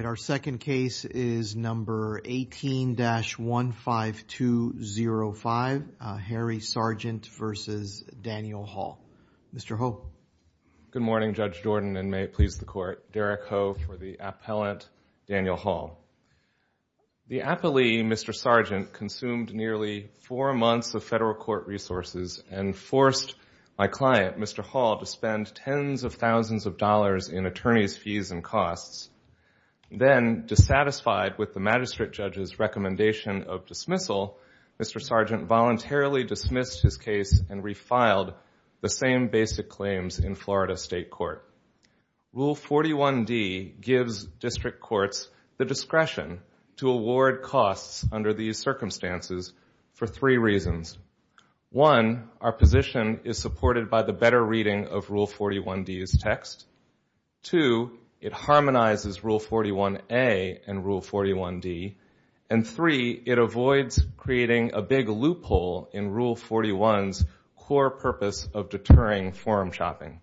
Good morning, Judge Jordan, and may it please the Court, Derek Ho for the appellant, Daniel Hall. The appellee, Mr. Sargent, consumed nearly four months of federal court resources and forced my client, Mr. Hall, to spend tens of thousands of dollars in attorney's fees and costs. Then dissatisfied with the magistrate judge's recommendation of dismissal, Mr. Sargent voluntarily dismissed his case and refiled the same basic claims in Florida State Court. Rule 41-D gives district courts the discretion to award costs under these circumstances for three reasons. One, our position is supported by the better reading of Rule 41-D's text. Two, it harmonizes Rule 41-A and Rule 41-D. And three, it avoids creating a big loophole in Rule 41's core purpose of deterring form shopping.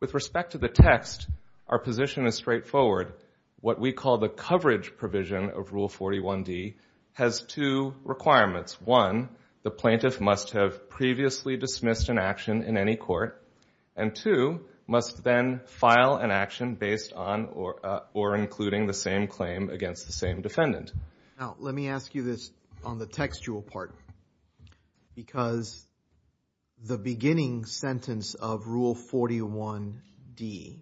With respect to the text, our position is straightforward. What we call the coverage provision of Rule 41-D has two requirements. One, the plaintiff must have previously dismissed an action in any court. And two, must then file an action based on or including the same claim against the same defendant. Now, let me ask you this on the textual part. Because the beginning sentence of Rule 41-D,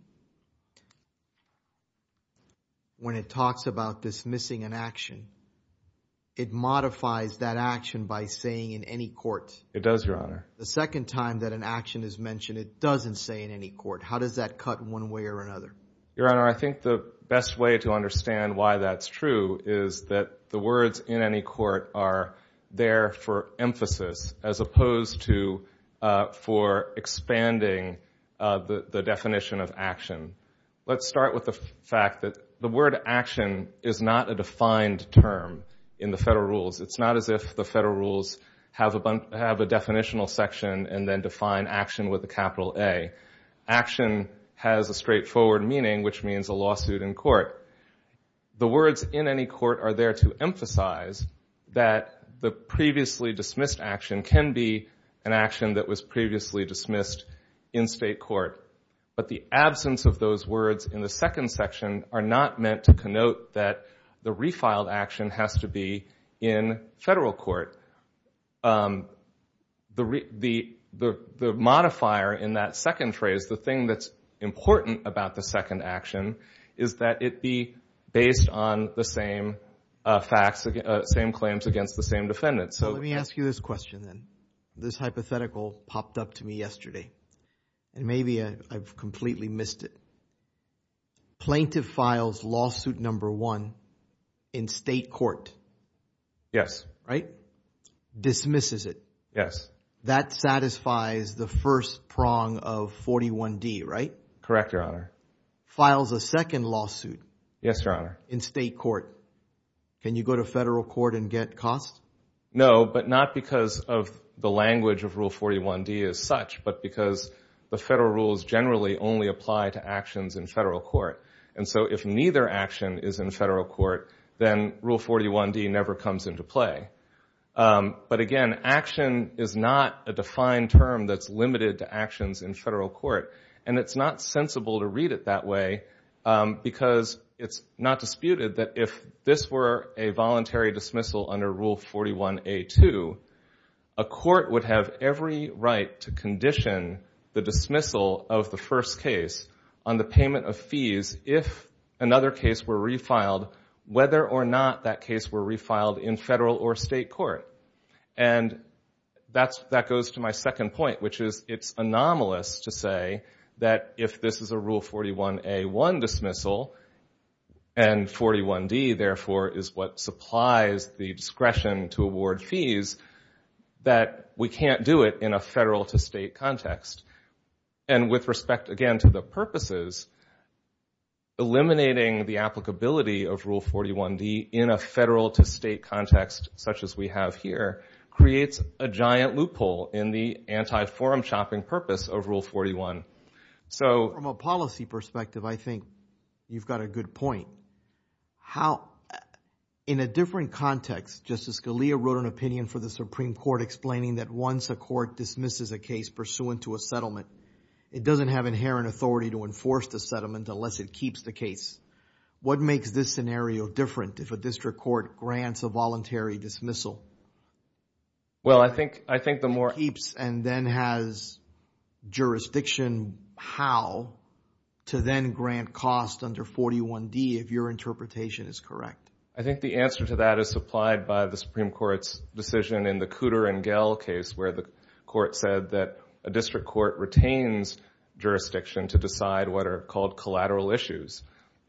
when it talks about dismissing an action, it modifies that action by saying in any court. It does, Your Honor. The second time that an action is mentioned, it doesn't say in any court. How does that cut one way or another? Your Honor, I think the best way to understand why that's true is that the words in any court are there for emphasis as opposed to for expanding the definition of action. Let's start with the fact that the word action is not a defined term in the federal rules. It's not as if the federal rules have a definitional section and then define action with a capital A. Action has a straightforward meaning, which means a lawsuit in court. The words in any court are there to emphasize that the previously dismissed action can be an action that was previously dismissed in state court. But the absence of those words in the second section are not meant to connote that the refiled action has to be in federal court. However, the modifier in that second phrase, the thing that's important about the second action is that it be based on the same facts, same claims against the same defendant. So let me ask you this question then. This hypothetical popped up to me yesterday and maybe I've completely missed it. Plaintiff files lawsuit number one in state court. Yes. Right? Dismisses it. Yes. That satisfies the first prong of 41D, right? Correct, Your Honor. Files a second lawsuit. Yes, Your Honor. In state court. Can you go to federal court and get costs? No, but not because of the language of Rule 41D as such, but because the federal rules generally only apply to actions in federal court. And so if neither action is in federal court, then Rule 41D never comes into play. But again, action is not a defined term that's limited to actions in federal court. And it's not sensible to read it that way because it's not disputed that if this were a voluntary dismissal under Rule 41A2, a court would have every right to condition the dismissal of the first case on the payment of fees if another case were refiled, whether or not that case were refiled in federal or state court. And that goes to my second point, which is it's anomalous to say that if this is a Rule 41A1 dismissal, and 41D therefore is what supplies the discretion to award fees, that we can't do it in a federal to state context. And with respect, again, to the purposes, eliminating the applicability of Rule 41D in a federal to state context, such as we have here, creates a giant loophole in the anti-forum chopping purpose of Rule 41. From a policy perspective, I think you've got a good point. How, in a different context, Justice Scalia wrote an opinion for the Supreme Court explaining that once a court dismisses a case pursuant to a settlement, it doesn't have inherent authority to enforce the settlement unless it keeps the case. What makes this scenario different if a district court grants a voluntary dismissal? It keeps and then has jurisdiction how to then grant cost under 41D if your interpretation is correct. I think the answer to that is supplied by the Supreme Court's decision in the Cooter and Gehl case where the court said that a district court retains jurisdiction to decide what are called collateral issues.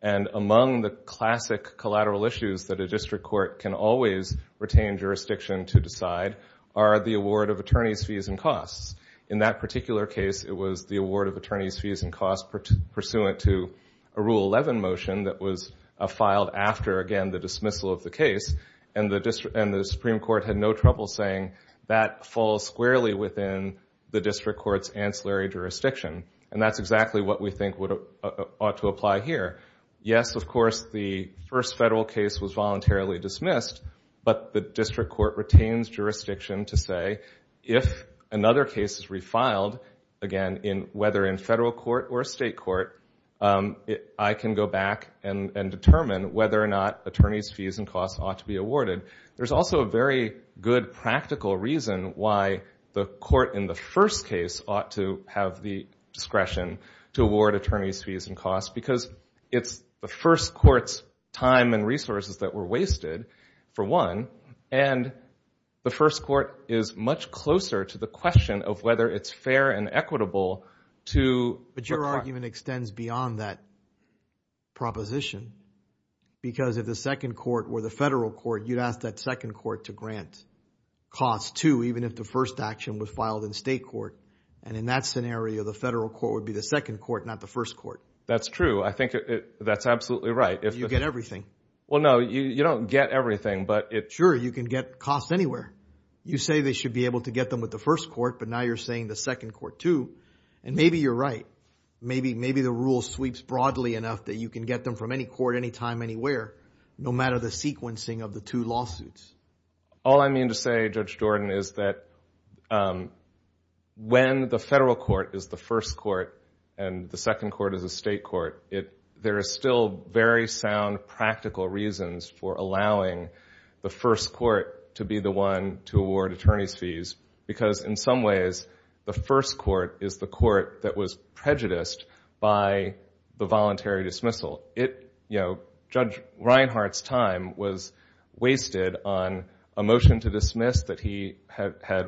And among the classic collateral issues that a district court can always retain jurisdiction to decide are the award of attorneys' fees and costs. In that particular case, it was the award of attorneys' fees and costs pursuant to a Rule 11 motion that was filed after, again, the dismissal of the case, and the Supreme Court had no trouble saying that falls squarely within the district court's ancillary jurisdiction. And that's exactly what we think ought to apply here. Yes, of course, the first federal case was voluntarily dismissed, but the district court retains jurisdiction to say if another case is refiled, again, whether in federal court or state court, I can go back and determine whether or not attorneys' fees and costs ought to be awarded. There's also a very good practical reason why the court in the first case ought to have the discretion to award attorneys' fees and costs because it's the first court's time and resources that were wasted, for one, and the first court is much closer to the question of whether it's fair and equitable to... But your argument extends beyond that proposition because if the second court were the federal court, you'd ask that second court to grant costs, too, even if the first action was filed in state court. And in that scenario, the federal court would be the second court, not the first court. That's true. I think that's absolutely right. You get everything. Well, no, you don't get everything, but... Sure, you can get costs anywhere. You say they should be able to get them with the first court, but now you're saying the second court, too. And maybe you're right. Maybe the rule sweeps broadly enough that you can get them from any court, any time, anywhere, no matter the sequencing of the two lawsuits. All I mean to say, Judge Jordan, is that when the federal court is the first court and the second court is the state court, there are still very sound, practical reasons for allowing the first court to be the one to award attorney's fees because in some ways, the first court is the court that was prejudiced by the voluntary dismissal. Judge Reinhart's time was wasted on a motion to dismiss that he had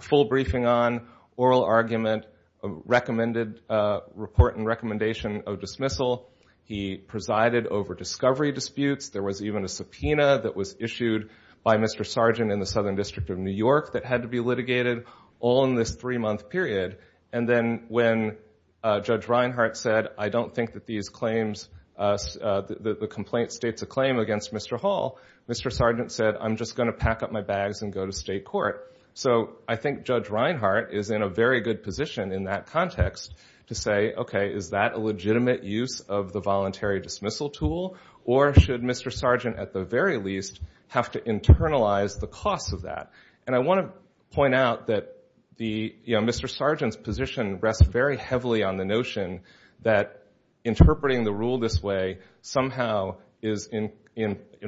full briefing on, oral argument, a report and recommendation of dismissal. He presided over discovery disputes. There was even a subpoena that was issued by Mr. Sargent in the Southern District of New York that had to be litigated all in this three-month period. And then when Judge Reinhart said, I don't think that the complaint states a claim against Mr. Hall, Mr. Sargent said, I'm just going to pack up my bags and go to state court. So I think Judge Reinhart is in a very good position in that context to say, okay, is that a legitimate use of the voluntary dismissal tool? Or should Mr. Sargent at the very least have to internalize the cost of that? And I want to point out that Mr. Sargent's position rests very heavily on the notion that interpreting the rule this way somehow is in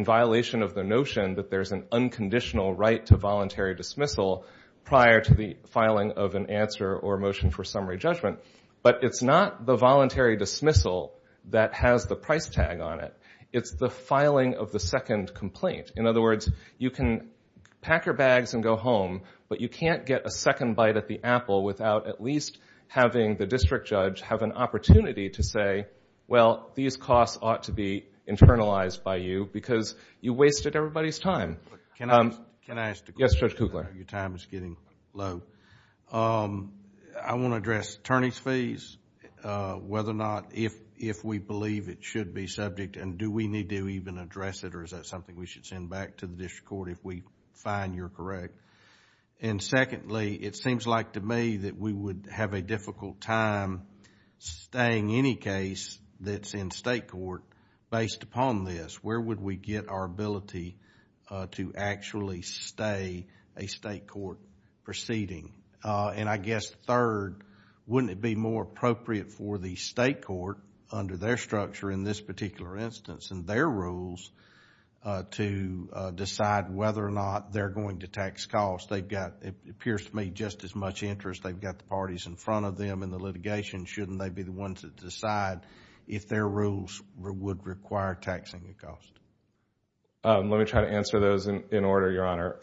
violation of the notion that there's an unconditional right to voluntary dismissal prior to the filing of an answer or motion for summary judgment. But it's not the voluntary dismissal that has the price tag on it. It's the filing of the second complaint. In other words, you can pack your bags and go home, but you can't get a second bite at the apple without at least having the district judge have an opportunity to say, well, these costs ought to be internalized by you because you wasted everybody's time. Can I ask a question? Yes, Judge Kugler. Your time is getting low. I want to address attorney's fees, whether or not if we believe it should be subject and do we need to even address it or is that something we should send back to the district court if we find you're correct? And secondly, it seems like to me that we would have a difficult time staying any case that's in state court based upon this. Where would we get our ability to actually stay a state court proceeding? And I guess third, wouldn't it be more appropriate for the state court under their structure in this particular instance and their rules to decide whether or not they're going to tax costs? They've got, it appears to me, just as much interest. They've got the parties in front of them in the litigation. Shouldn't they be the ones that decide if their rules would require taxing the cost? Let me try to answer those in order, Your Honor.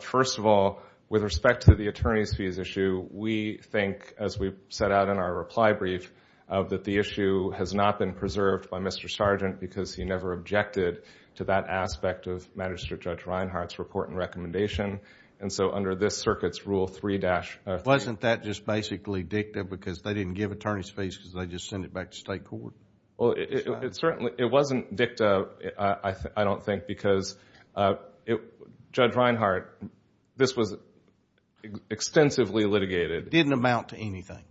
First of all, with respect to the attorney's fees issue, we think, as we've set out in our reply brief, that the issue has not been preserved by Mr. Sargent because he never objected to that aspect of Magistrate Judge Reinhart's report and recommendation. And so under this circuit's Rule 3- Wasn't that just basically dicta because they didn't give attorney's fees because they just sent it back to state court? It wasn't dicta, I don't think, because Judge Reinhart, this was extensively litigated. It didn't amount to anything.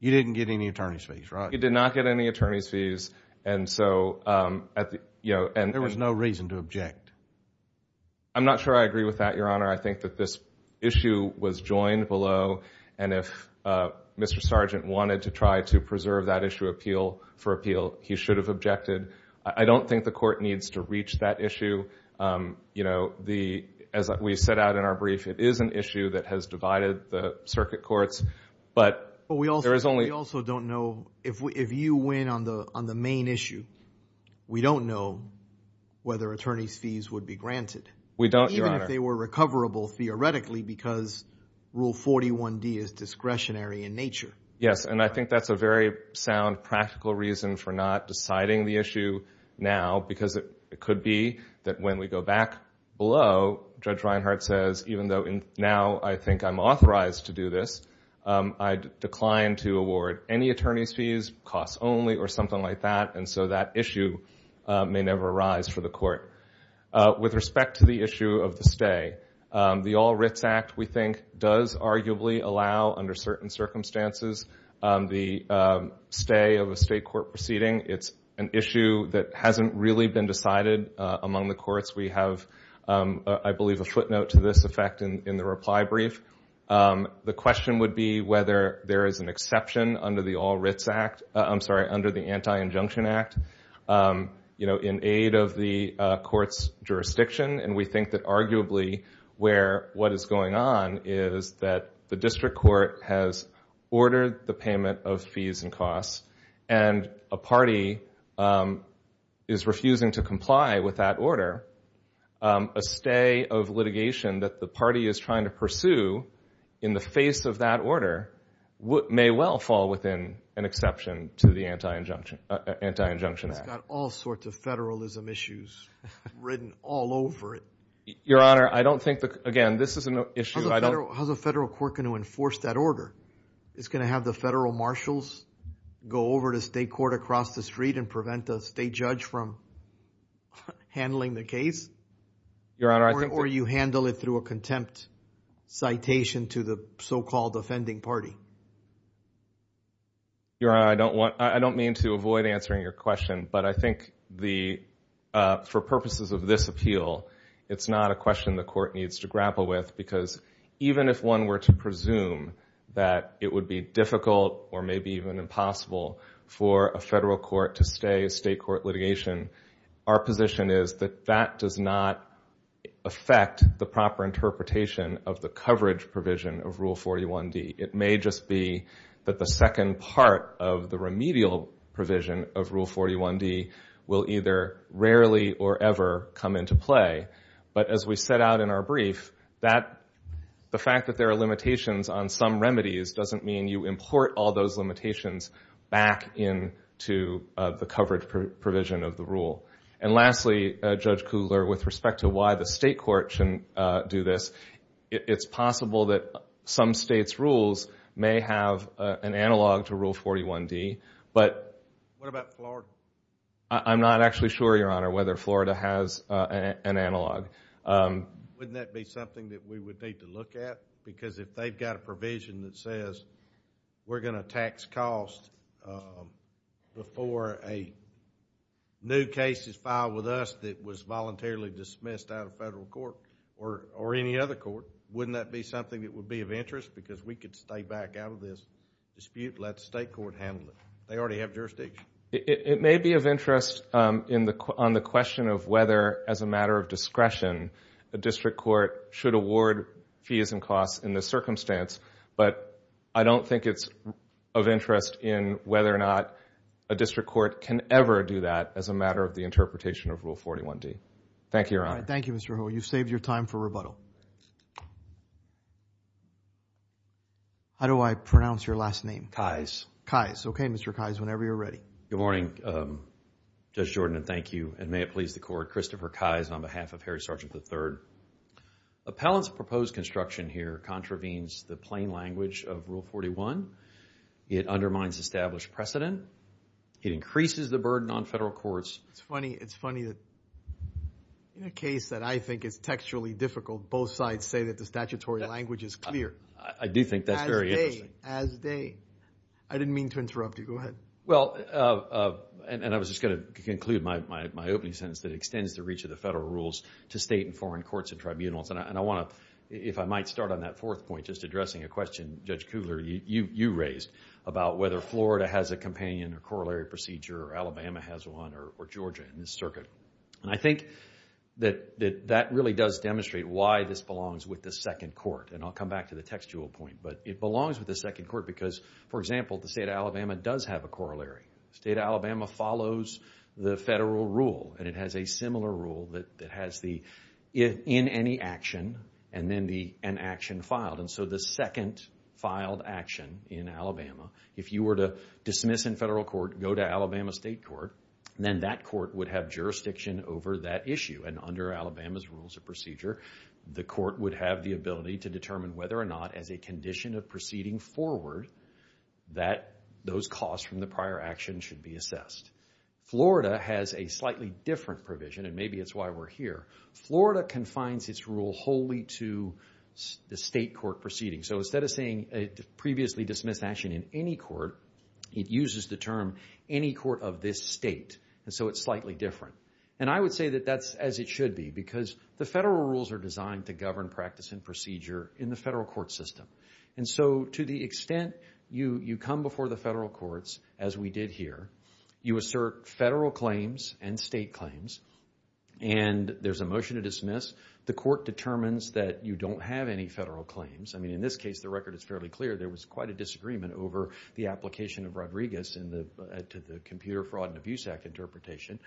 You didn't get any attorney's fees, right? He did not get any attorney's fees. There was no reason to object. I'm not sure I agree with that, Your Honor. I think that this issue was joined below and if Mr. Sargent wanted to try to preserve that issue for appeal, he should have objected. I don't think the court needs to reach that issue. As we set out in our brief, it is an issue that has divided the circuit courts. But we also don't know, if you win on the main issue, we don't know whether attorney's fees would be granted. Even if they were recoverable, theoretically, because Rule 41-D is discretionary in nature. Yes, and I think that's a very sound, practical reason for not deciding the issue now, because it could be that when we go back below, Judge Reinhart says, even though now I think I'm authorized to do this, I decline to award any attorney's fees, costs only, or something like that, and so that issue may never arise for the court. With respect to the issue of the stay, the All Writs Act, we think, does arguably allow, under certain circumstances, the stay of a state court proceeding. It's an issue that hasn't really been decided among the courts. We have, I believe, a footnote to this effect in the reply brief. The question would be whether there is an exception under the Anti-Injunction Act, in aid of the court's jurisdiction, and we think that arguably, what is going on is that the district court has ordered the payment of fees and costs, and a party is refusing to comply with that order. A stay of litigation that the party is trying to pursue, in the face of that order, may well fall within an exception to the Anti-Injunction Act. It's got all sorts of federalism issues written all over it. Your Honor, I don't think that, again, this is an issue. How's a federal court going to enforce that order? Is it going to have the federal marshals go over to state court across the street and prevent a state judge from handling the case? Or you handle it through a contempt citation to the so-called offending party? Your Honor, I don't mean to avoid answering your question, but I think, for purposes of this appeal, it's not a question the court needs to grapple with because, even if one were to presume that it would be difficult or maybe even impossible for a federal court to stay a state court litigation, our position is that that does not affect the proper interpretation of the coverage provision of Rule 41D. It may just be that the second part of the remedial provision of Rule 41D will either rarely or ever come into play. But, as we set out in our brief, the fact that there are limitations on some remedies doesn't mean you import all those limitations back into the coverage provision of the rule. And lastly, Judge Kugler, with respect to why the state court should do this, it's possible that some states' rules may have an analog to Rule 41D, but... What about Florida? I'm not actually sure, Your Honor, whether Florida has an analog. Wouldn't that be something that we would need to look at? Because if they've got a provision that says we're going to tax costs before a new case is filed with us that was voluntarily dismissed out of federal court or any other court, wouldn't that be something that would be of interest? Because we could stay back out of this dispute and let the state court handle it. They already have jurisdiction. It may be of interest on the question of whether, as a matter of discretion, a district court should award fees and costs in this circumstance. But I don't think it's of interest in whether or not a district court can ever do that Thank you, Your Honor. Thank you, Mr. Ho. You've saved your time for rebuttal. How do I pronounce your last name? Kyes. Good morning, Judge Jordan, and thank you. And may it please the Court, Christopher Kyes on behalf of Harry Sargent III. Appellant's proposed construction here contravenes the plain language of Rule 41. It undermines established precedent. It increases the burden on federal courts. It's funny that in a case that I think is textually difficult, both sides say that the statutory language is clear. I do think that's very interesting. I didn't mean to interrupt you. I was just going to conclude my opening sentence to state and foreign courts and tribunals. And I want to, if I might start on that fourth point, just addressing a question Judge Kugler, you raised about whether Florida has a companion or corollary procedure or Alabama has one or Georgia in this circuit. And I think that that really does demonstrate why this belongs with the second court. And I'll come back to the textual point. But it belongs with the second court because, for example, the state of Alabama does have a corollary. The state of Alabama follows the federal rule and it has a similar rule that has the in any action and then an action filed. And so the second filed action in Alabama, if you were to dismiss in federal court, go to Alabama state court, then that court would have jurisdiction over that issue. And under Alabama's Rules of Procedure, the court would have the ability to determine whether or not as a condition of proceeding forward that those costs from the prior action should be assessed. Florida has a slightly different provision, and maybe it's why we're here. Florida confines its rule wholly to the state court proceeding. So instead of saying a previously dismissed action in any court, it uses the term any court of this state. And so it's slightly different. And I would say that that's as it should be And so to the extent you come before the federal courts, as we did here, you assert federal claims and state claims, and there's a motion to dismiss. The court determines that you don't have any federal claims. I mean, in this case, the record is fairly clear. There was quite a disagreement over the application of Rodriguez to the Computer Fraud and Abuse Act interpretation.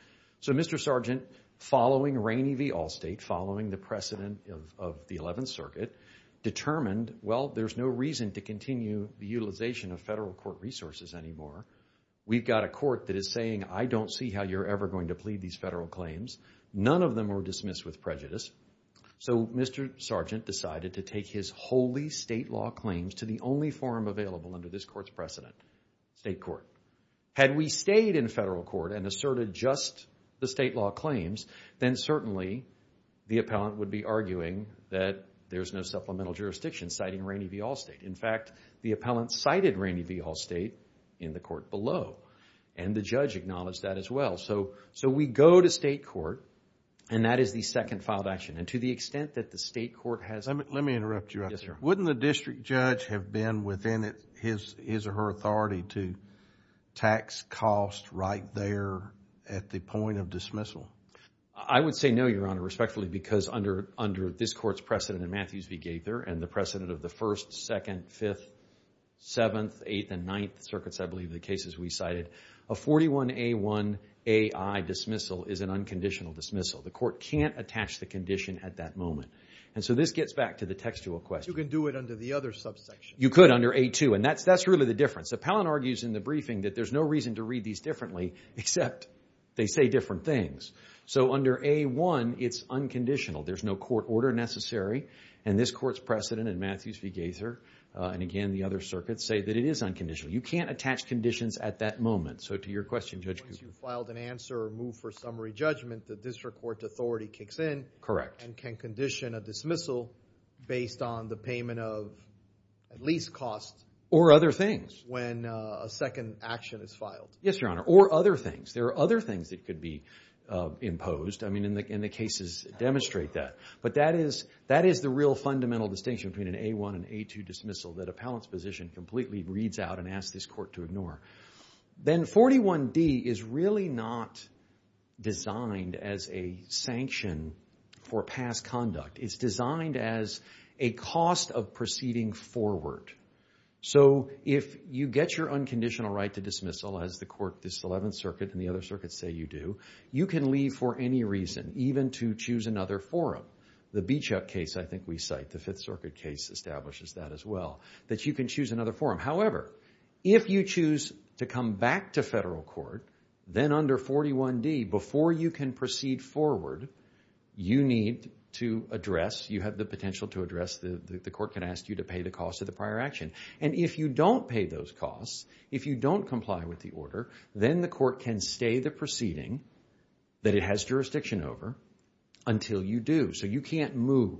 So Mr. Sargent, following Rainey v. Allstate, following the precedent of the Eleventh Circuit, determined, well, there's no reason to continue the utilization of federal court resources anymore. We've got a court that is saying, I don't see how you're ever going to plead these federal claims. None of them were dismissed with prejudice. So Mr. Sargent decided to take his wholly state law claims to the only forum available under this court's precedent, state court. Had we stayed in federal court and asserted just the state law claims, then certainly the appellant would be arguing that there's no supplemental jurisdiction citing Rainey v. Allstate. In fact, the appellant cited Rainey v. Allstate in the court below, and the judge acknowledged that as well. So we go to state court, and that is the second filed action, and to the extent that the state court has... Let me interrupt you. Yes, sir. Wouldn't the district judge have been within his or her authority to tax costs right there at the point of dismissal? I would say no, Your Honor, respectfully, because under this court's precedent in Matthews v. Gaither, and the precedent of the 1st, 2nd, 5th, 7th, 8th, and 9th circuits, I believe, of the cases we cited, a 41A1AI dismissal is an unconditional dismissal. The court can't attach the condition at that moment. And so this gets back to the textual question. You could do it under the other subsection. You could, under A2, and that's really the difference. The appellant argues in the briefing that there's no reason to read these differently except they say different things. So under A1, it's unconditional. There's no court order necessary. And this court's precedent in Matthews v. Gaither, and again, the other circuits, say that it is unconditional. You can't attach conditions at that moment. So to your question, Judge Cooper. Once you've filed an answer or moved for summary judgment, the district court authority kicks in and can condition a dismissal based on the payment of at least cost... Or other things. When a second action is filed. Yes, Your Honor. Or other things. There are other things that could be imposed. I mean, and the cases demonstrate that. But that is the real fundamental distinction between an A1 and A2 dismissal that appellant's position completely reads out and asks this court to ignore. Then 41D is really not designed It's designed as a cost of proceeding forward. So if you get your unconditional right to dismissal, as the court, this 11th Circuit and the other circuits say you do, you can leave for any reason even to choose another forum. The Beechuk case I think we cite. The Fifth Circuit case establishes that as well. That you can choose another forum. However, if you choose to come back to federal court then under 41D, before you can proceed forward you need to address You have the potential to address. The court can ask you to pay the cost of the prior action. And if you don't pay those costs if you don't comply with the order, then the court can stay the proceeding that it has jurisdiction over until you do. So you can't move.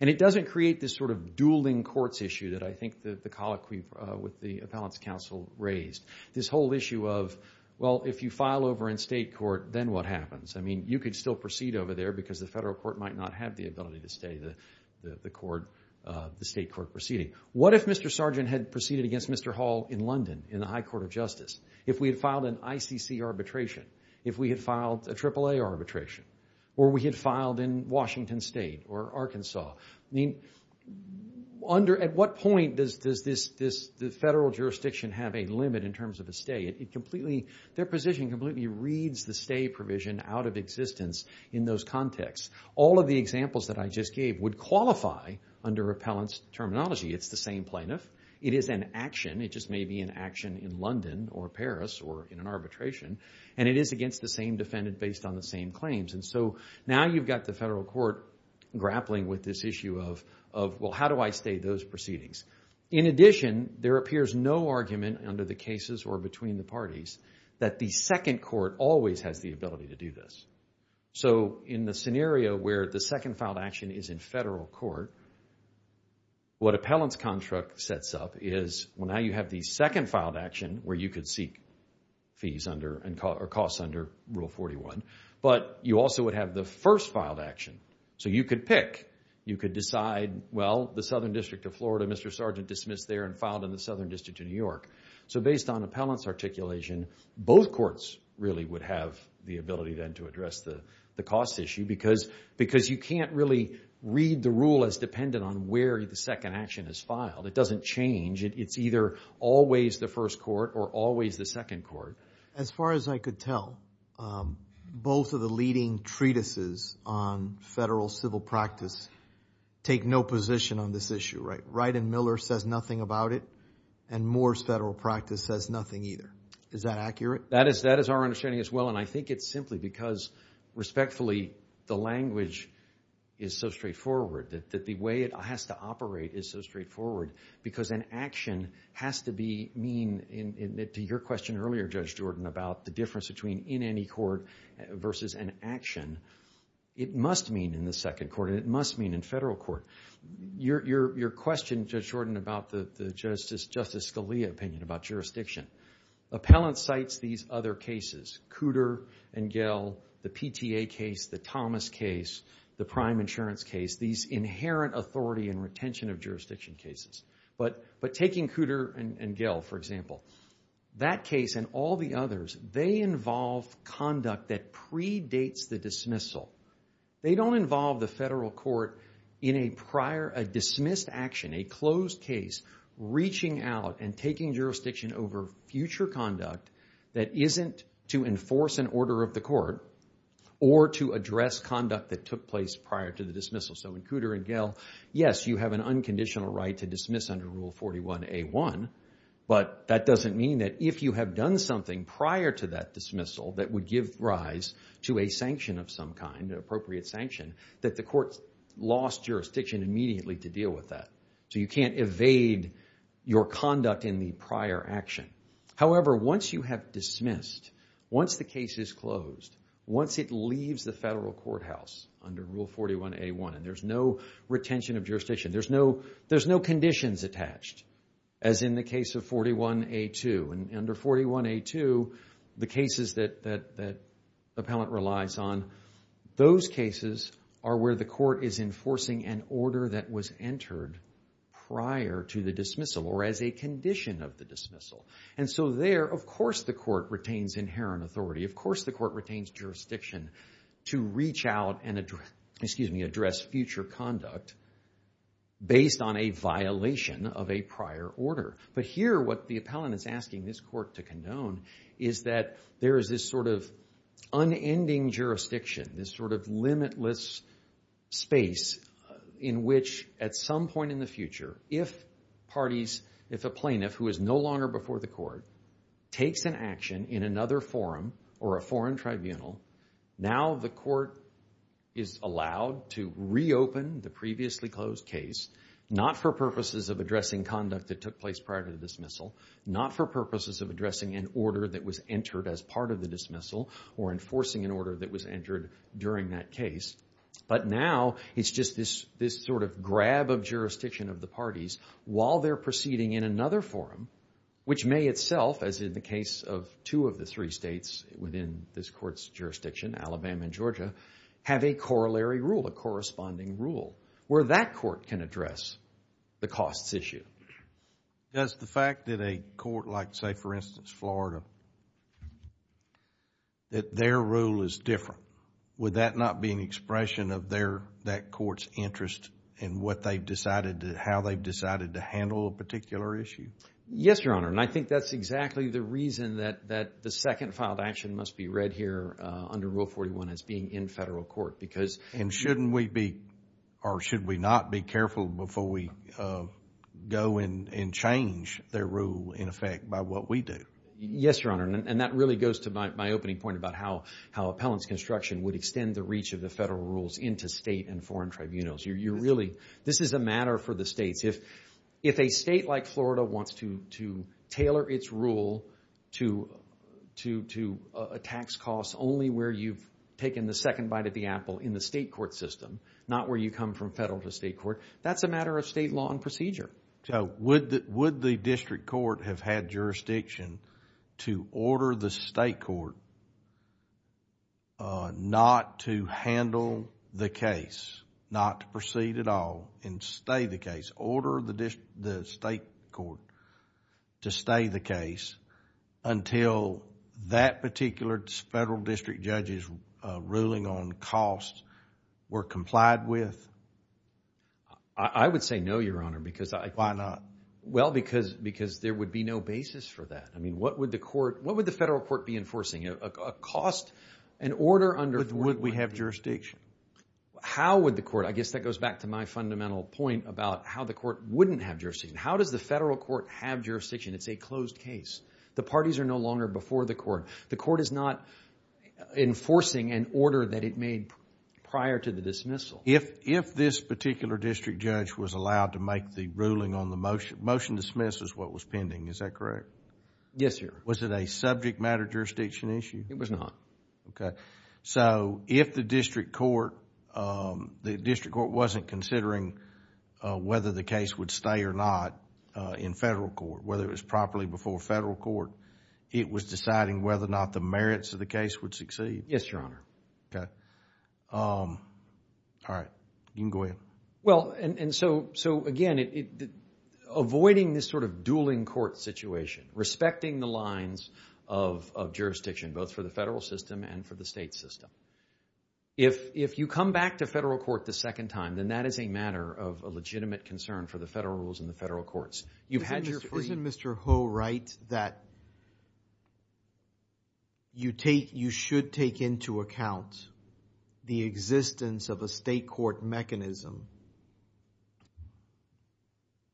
And it doesn't create this sort of dueling courts issue that I think the colloquy with the appellant's counsel raised. This whole issue of, well, if you file over in state court, then what happens? I mean, you could still stay the state court proceeding. What if Mr. Sargent had proceeded against Mr. Hall in London in the High Court of Justice? If we had filed an ICC arbitration? If we had filed a AAA arbitration? Or we had filed in Washington State or Arkansas? At what point does the federal jurisdiction have a limit in terms of a stay? Their position completely reads the stay provision out of existence in those contexts. All of the examples that I just gave would qualify under appellant's terminology. It's the same plaintiff. It is an action. It just may be an action in London or Paris or in an arbitration. And it is against the same defendant based on the same claims. And so now you've got the federal court grappling with this issue of, well, how do I stay those proceedings? In addition, there appears no argument under the cases or between the parties that the second court always has the ability to do this. In the scenario where the second filed action is in federal court, what appellant's contract sets up is, well, now you have the second filed action where you could seek fees under or costs under Rule 41. But you also would have the first filed action. So you could pick. You could decide, well, the Southern District of Florida, Mr. Sargent dismissed there and filed in the Southern District of New York. So based on appellant's articulation, both courts really would have the ability then to address the cost issue because you can't really read the rule as dependent on where the second action is filed. It doesn't change. It's either always the first court or always the second court. As far as I could tell, both of the leading treatises on federal civil practice take no position on this issue. Wright and Miller says nothing about it. And Moore's federal practice says nothing either. Is that accurate? That is our understanding as well. And I think it's simply because respectfully, the language is so straightforward. That the way it has to operate is so straightforward because an action has to be mean, to your question earlier, Judge Jordan, about the difference between in any court versus an action. It must mean in the second court. It must mean in federal court. Your question, Judge Jordan, about the Justice Scalia opinion about jurisdiction. Appellant cites these other cases. Cooter and Gell, the PTA case, the Thomas case, the prime insurance case, these inherent authority and retention of jurisdiction cases. But taking Cooter and Gell, for example, that case and all the others, they involve conduct that predates the dismissal. They don't involve the federal court in a prior, a dismissed action, a closed case, reaching out and taking jurisdiction over future conduct that isn't to enforce an order of the court or to address conduct that took place prior to the dismissal. So in Cooter and Gell, yes, you have an unconditional right to dismiss under Rule 41A1, but that doesn't mean that if you have done something prior to that of some kind, an appropriate sanction, that the court lost jurisdiction immediately to deal with that. So you can't evade your conduct in the prior action. However, once you have dismissed, once the case is closed, once it leaves the federal courthouse under Rule 41A1 and there's no retention of jurisdiction, there's no conditions attached, as in the case of 41A2. And under 41A2, the cases that the appellant relies on, those cases are where the court is enforcing an order that was entered prior to the dismissal or as a condition of the dismissal. And so there, of course the court retains inherent authority. Of course the court retains jurisdiction to reach out and address future conduct based on a violation of a prior order. But here what the appellant is asking this court to condone is that there is this sort of unending jurisdiction, this sort of limitless space in which at some point in the future if parties, if a plaintiff who is no longer before the court takes an action in another forum or a foreign tribunal, now the court is allowed to reopen the previously closed case, not for purposes of addressing conduct that took place prior to the dismissal, not for purposes of addressing an order that was entered as part of the dismissal or enforcing an order that was entered during that case, but now it's just this sort of grab of jurisdiction of the parties while they're proceeding in another forum which may itself, as in the case of two of the three states within this court's jurisdiction, Alabama and Georgia, have a corollary rule, a corresponding rule, where that court can address the costs issue. Does the fact that a court, like say for instance Florida, that their rule is different, would that not be an expression of that court's interest in how they've decided to handle a particular issue? Yes, Your Honor, and I think that's exactly the reason that the second filed action must be read here under Rule 41 as being in federal court. And shouldn't we be, or should we not be careful before we go and change their rule in effect by what we do? Yes, Your Honor, and that really goes to my opening point about how appellant's construction would extend the reach of the federal rules into state and foreign tribunals. This is a matter for the states. If a state like Florida wants to tailor its rule to a tax cost only where you've taken the second bite of the apple in the state court system, not where you come from federal to state court, that's a matter of state law and procedure. So would the district court have had jurisdiction to order the state court not to handle the case, not to proceed at all and stay the case, order the state court to stay the case? I would say no, Your Honor. Why not? Well, because there would be no basis for that. What would the federal court be enforcing? Would we have jurisdiction? How would the court, I guess that goes back to my fundamental point about how the court wouldn't have jurisdiction. How does the federal court have jurisdiction? It's a closed case. The parties are no longer before the court. The court is not enforcing an order that it made prior to the dismissal. If this particular district judge was allowed to make the ruling on the motion, motion to dismiss is what was pending, is that correct? Yes, Your Honor. Was it a subject matter jurisdiction issue? It was not. So if the district court wasn't considering whether the case would stay or not in federal court, whether it was properly before federal court, it was deciding whether or not the merits of the case would succeed? Yes, Your Honor. All right. You can go ahead. Again, avoiding this sort of dueling court situation, respecting the lines of jurisdiction, both for the federal system and for the state system. If you come back to federal court the second time, then that is a matter of a legitimate concern for the federal rules and the federal courts. Isn't Mr. Ho right that you should take into account the existence of a state court mechanism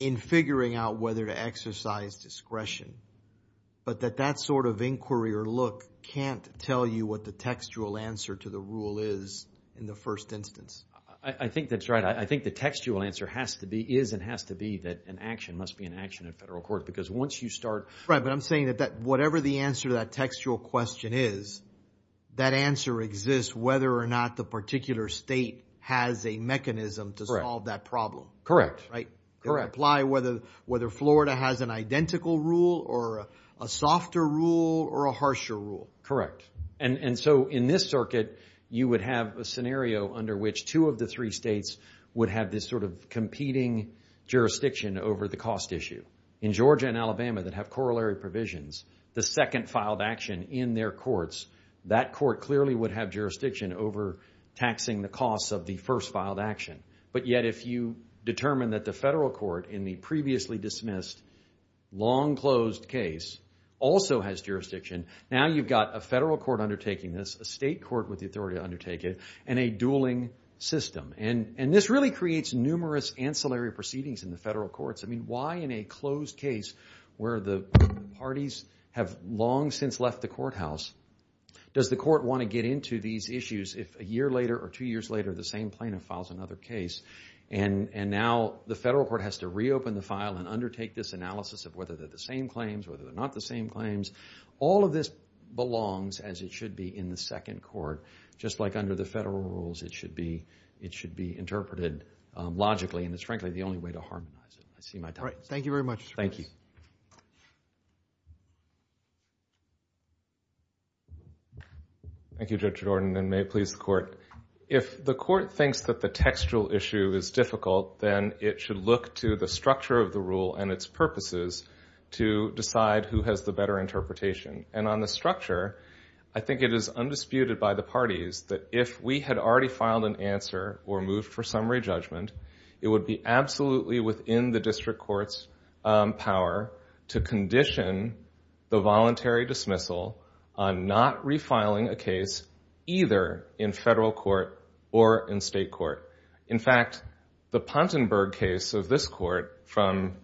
in figuring out whether to exercise discretion, but that that sort of inquiry or look can't tell you what the textual answer to the rule is in the first instance? I think that's right. I think the textual answer is and has to be that an action must be an action in federal court because once you start... Right, but I'm saying that whatever the answer to that textual question is, that answer exists whether or not the particular state has a mechanism to solve that problem. Correct. It would apply whether Florida has an identical rule or a softer rule or a harsher rule. Correct. And so in this circuit you would have a scenario under which two of the three states would have this sort of competing jurisdiction over the cost issue. In Georgia and Alabama that have corollary provisions, the second filed action in their courts, that court clearly would have jurisdiction over taxing the costs of the first filed action. But yet if you determine that the federal court in the previously dismissed long closed case also has jurisdiction, now you've got a federal court undertaking this, a state court with the authority to undertake it and a dueling system. And this really creates numerous ancillary proceedings in the federal courts. I mean, why in a closed case where the parties have long since left the courthouse does the court want to get into these issues if a year later or two years later the same plaintiff files another case and now the federal court has to reopen the file and undertake this analysis of whether they're the same claims, whether they're not the same claims. All of this belongs as it should be in the second court. Just like under the federal rules it should be interpreted logically and it's frankly the only way to harmonize it. Thank you very much. Thank you. Thank you Judge Jordan and may it please the court. If the court thinks that the textual issue is difficult then it should look to the structure of the rule and its purposes to decide who has the better interpretation. And on the structure I think it is undisputed by the parties that if we had already filed an answer or moved for summary judgment it would be absolutely within the district court's power to condition the voluntary dismissal on not refiling a case either in federal court or in state court. In fact the Pontenberg case of this court from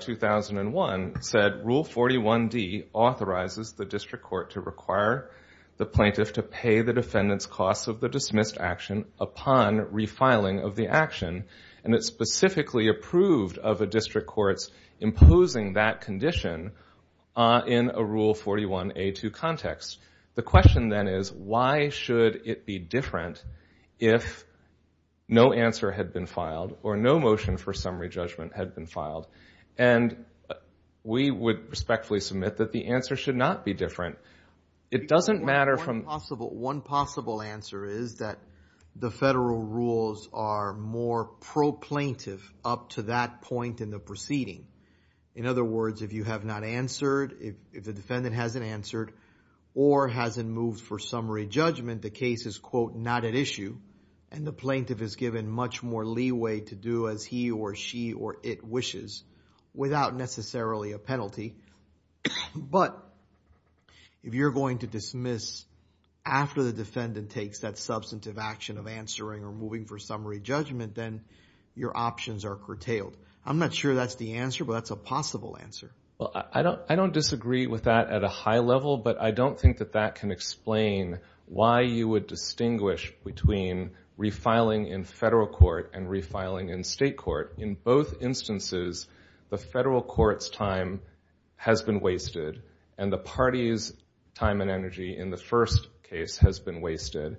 2001 said Rule 41D authorizes the district court to require the plaintiff to pay the defendant's costs of the dismissed action upon refiling of the action and it's specifically approved of the district court's imposing that condition in a Rule 41A2 context. The question then is why should it be different if no answer had been filed or no motion for summary judgment had been filed and we would respectfully submit that the answer should not be different. One possible answer is that the federal rules are more pro-plaintiff up to that point in the proceeding. In other words if you have not answered if the defendant hasn't answered or hasn't moved for summary judgment the case is quote not at issue and the plaintiff is given much more leeway to do as he or she or it wishes without necessarily a penalty but if you're going to dismiss after the defendant takes that substantive action of answering or moving for summary judgment then your options are curtailed. I'm not sure that's the answer but that's a possible answer. I don't disagree with that at a high level but I don't think that can explain why you would distinguish between refiling in federal court and refiling in state court. In both instances the federal court's time has been wasted and the party's time and energy in the first case has been wasted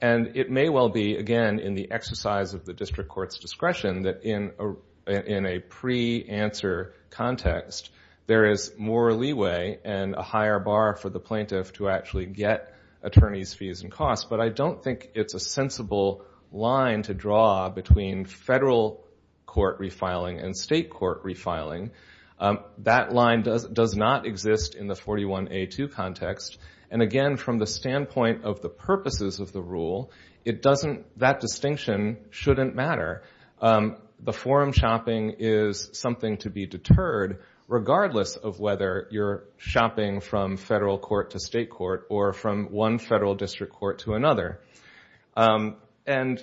and it may well be again in the exercise of the district court's discretion that in a pre-answer context there is more leeway and a higher bar for the plaintiff to actually get attorney's fees and costs but I don't think it's a sensible line to draw between federal court refiling and state court refiling. That line does not exist in the 41A2 context and again from the standpoint of the purposes of the rule it doesn't that distinction shouldn't matter. The forum shopping is something to be deterred regardless of whether you're shopping from federal court to state court or from one federal district court to another. And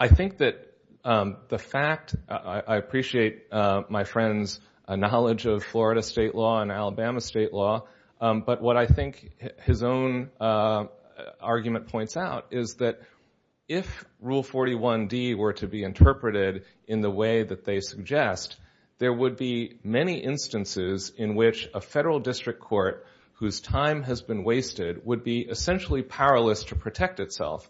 I think that the fact, I appreciate my friend's knowledge of Florida state law and Alabama state law but what I think his own argument points out is that if rule 41D were to be interpreted in the way that they suggest there would be many instances in which a federal district court whose time has been wasted would be essentially powerless to protect itself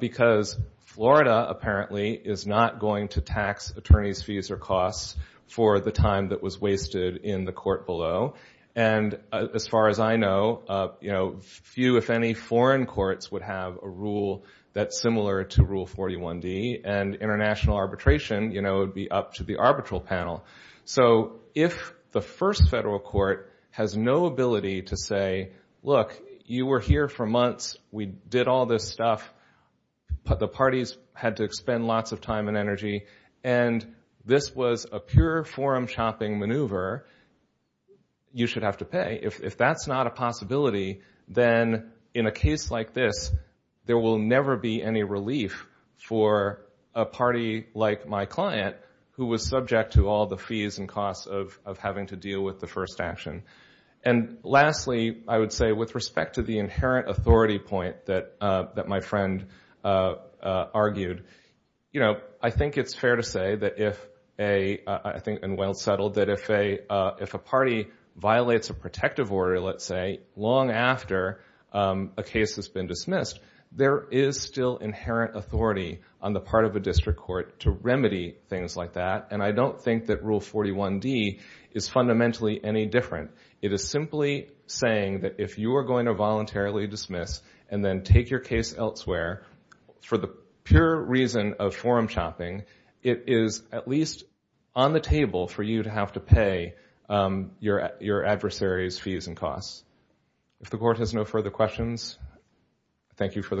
because Florida apparently is not going to tax attorney's fees or costs for the time that was wasted in the court below and as far as I know few if any foreign courts would have a rule that's similar to rule 41D and international arbitration would be up to the arbitral panel. So if the first federal court has no ability to say look you were here for months we did all this stuff but the parties had to spend lots of time and energy and this was a pure forum shopping maneuver you should have to pay. If that's not a possibility then in a case like this there will never be any relief for a party like my client who was subject to all the fees and costs of having to deal with the first action. And lastly I would say with respect to the inherent authority point that my friend argued I think it's fair to say that if I think and well settled that if a party violates a protective order let's say long after a case has been dismissed there is still inherent authority on the part of a district court to remedy things like that and I don't think that rule 41D is fundamentally any different. It is simply saying that if you are going to voluntarily dismiss and then take your case elsewhere for the pure reason of forum shopping it is at least on the table for you to have to pay your adversaries fees and costs. If the court has no further questions thank you for the court's time.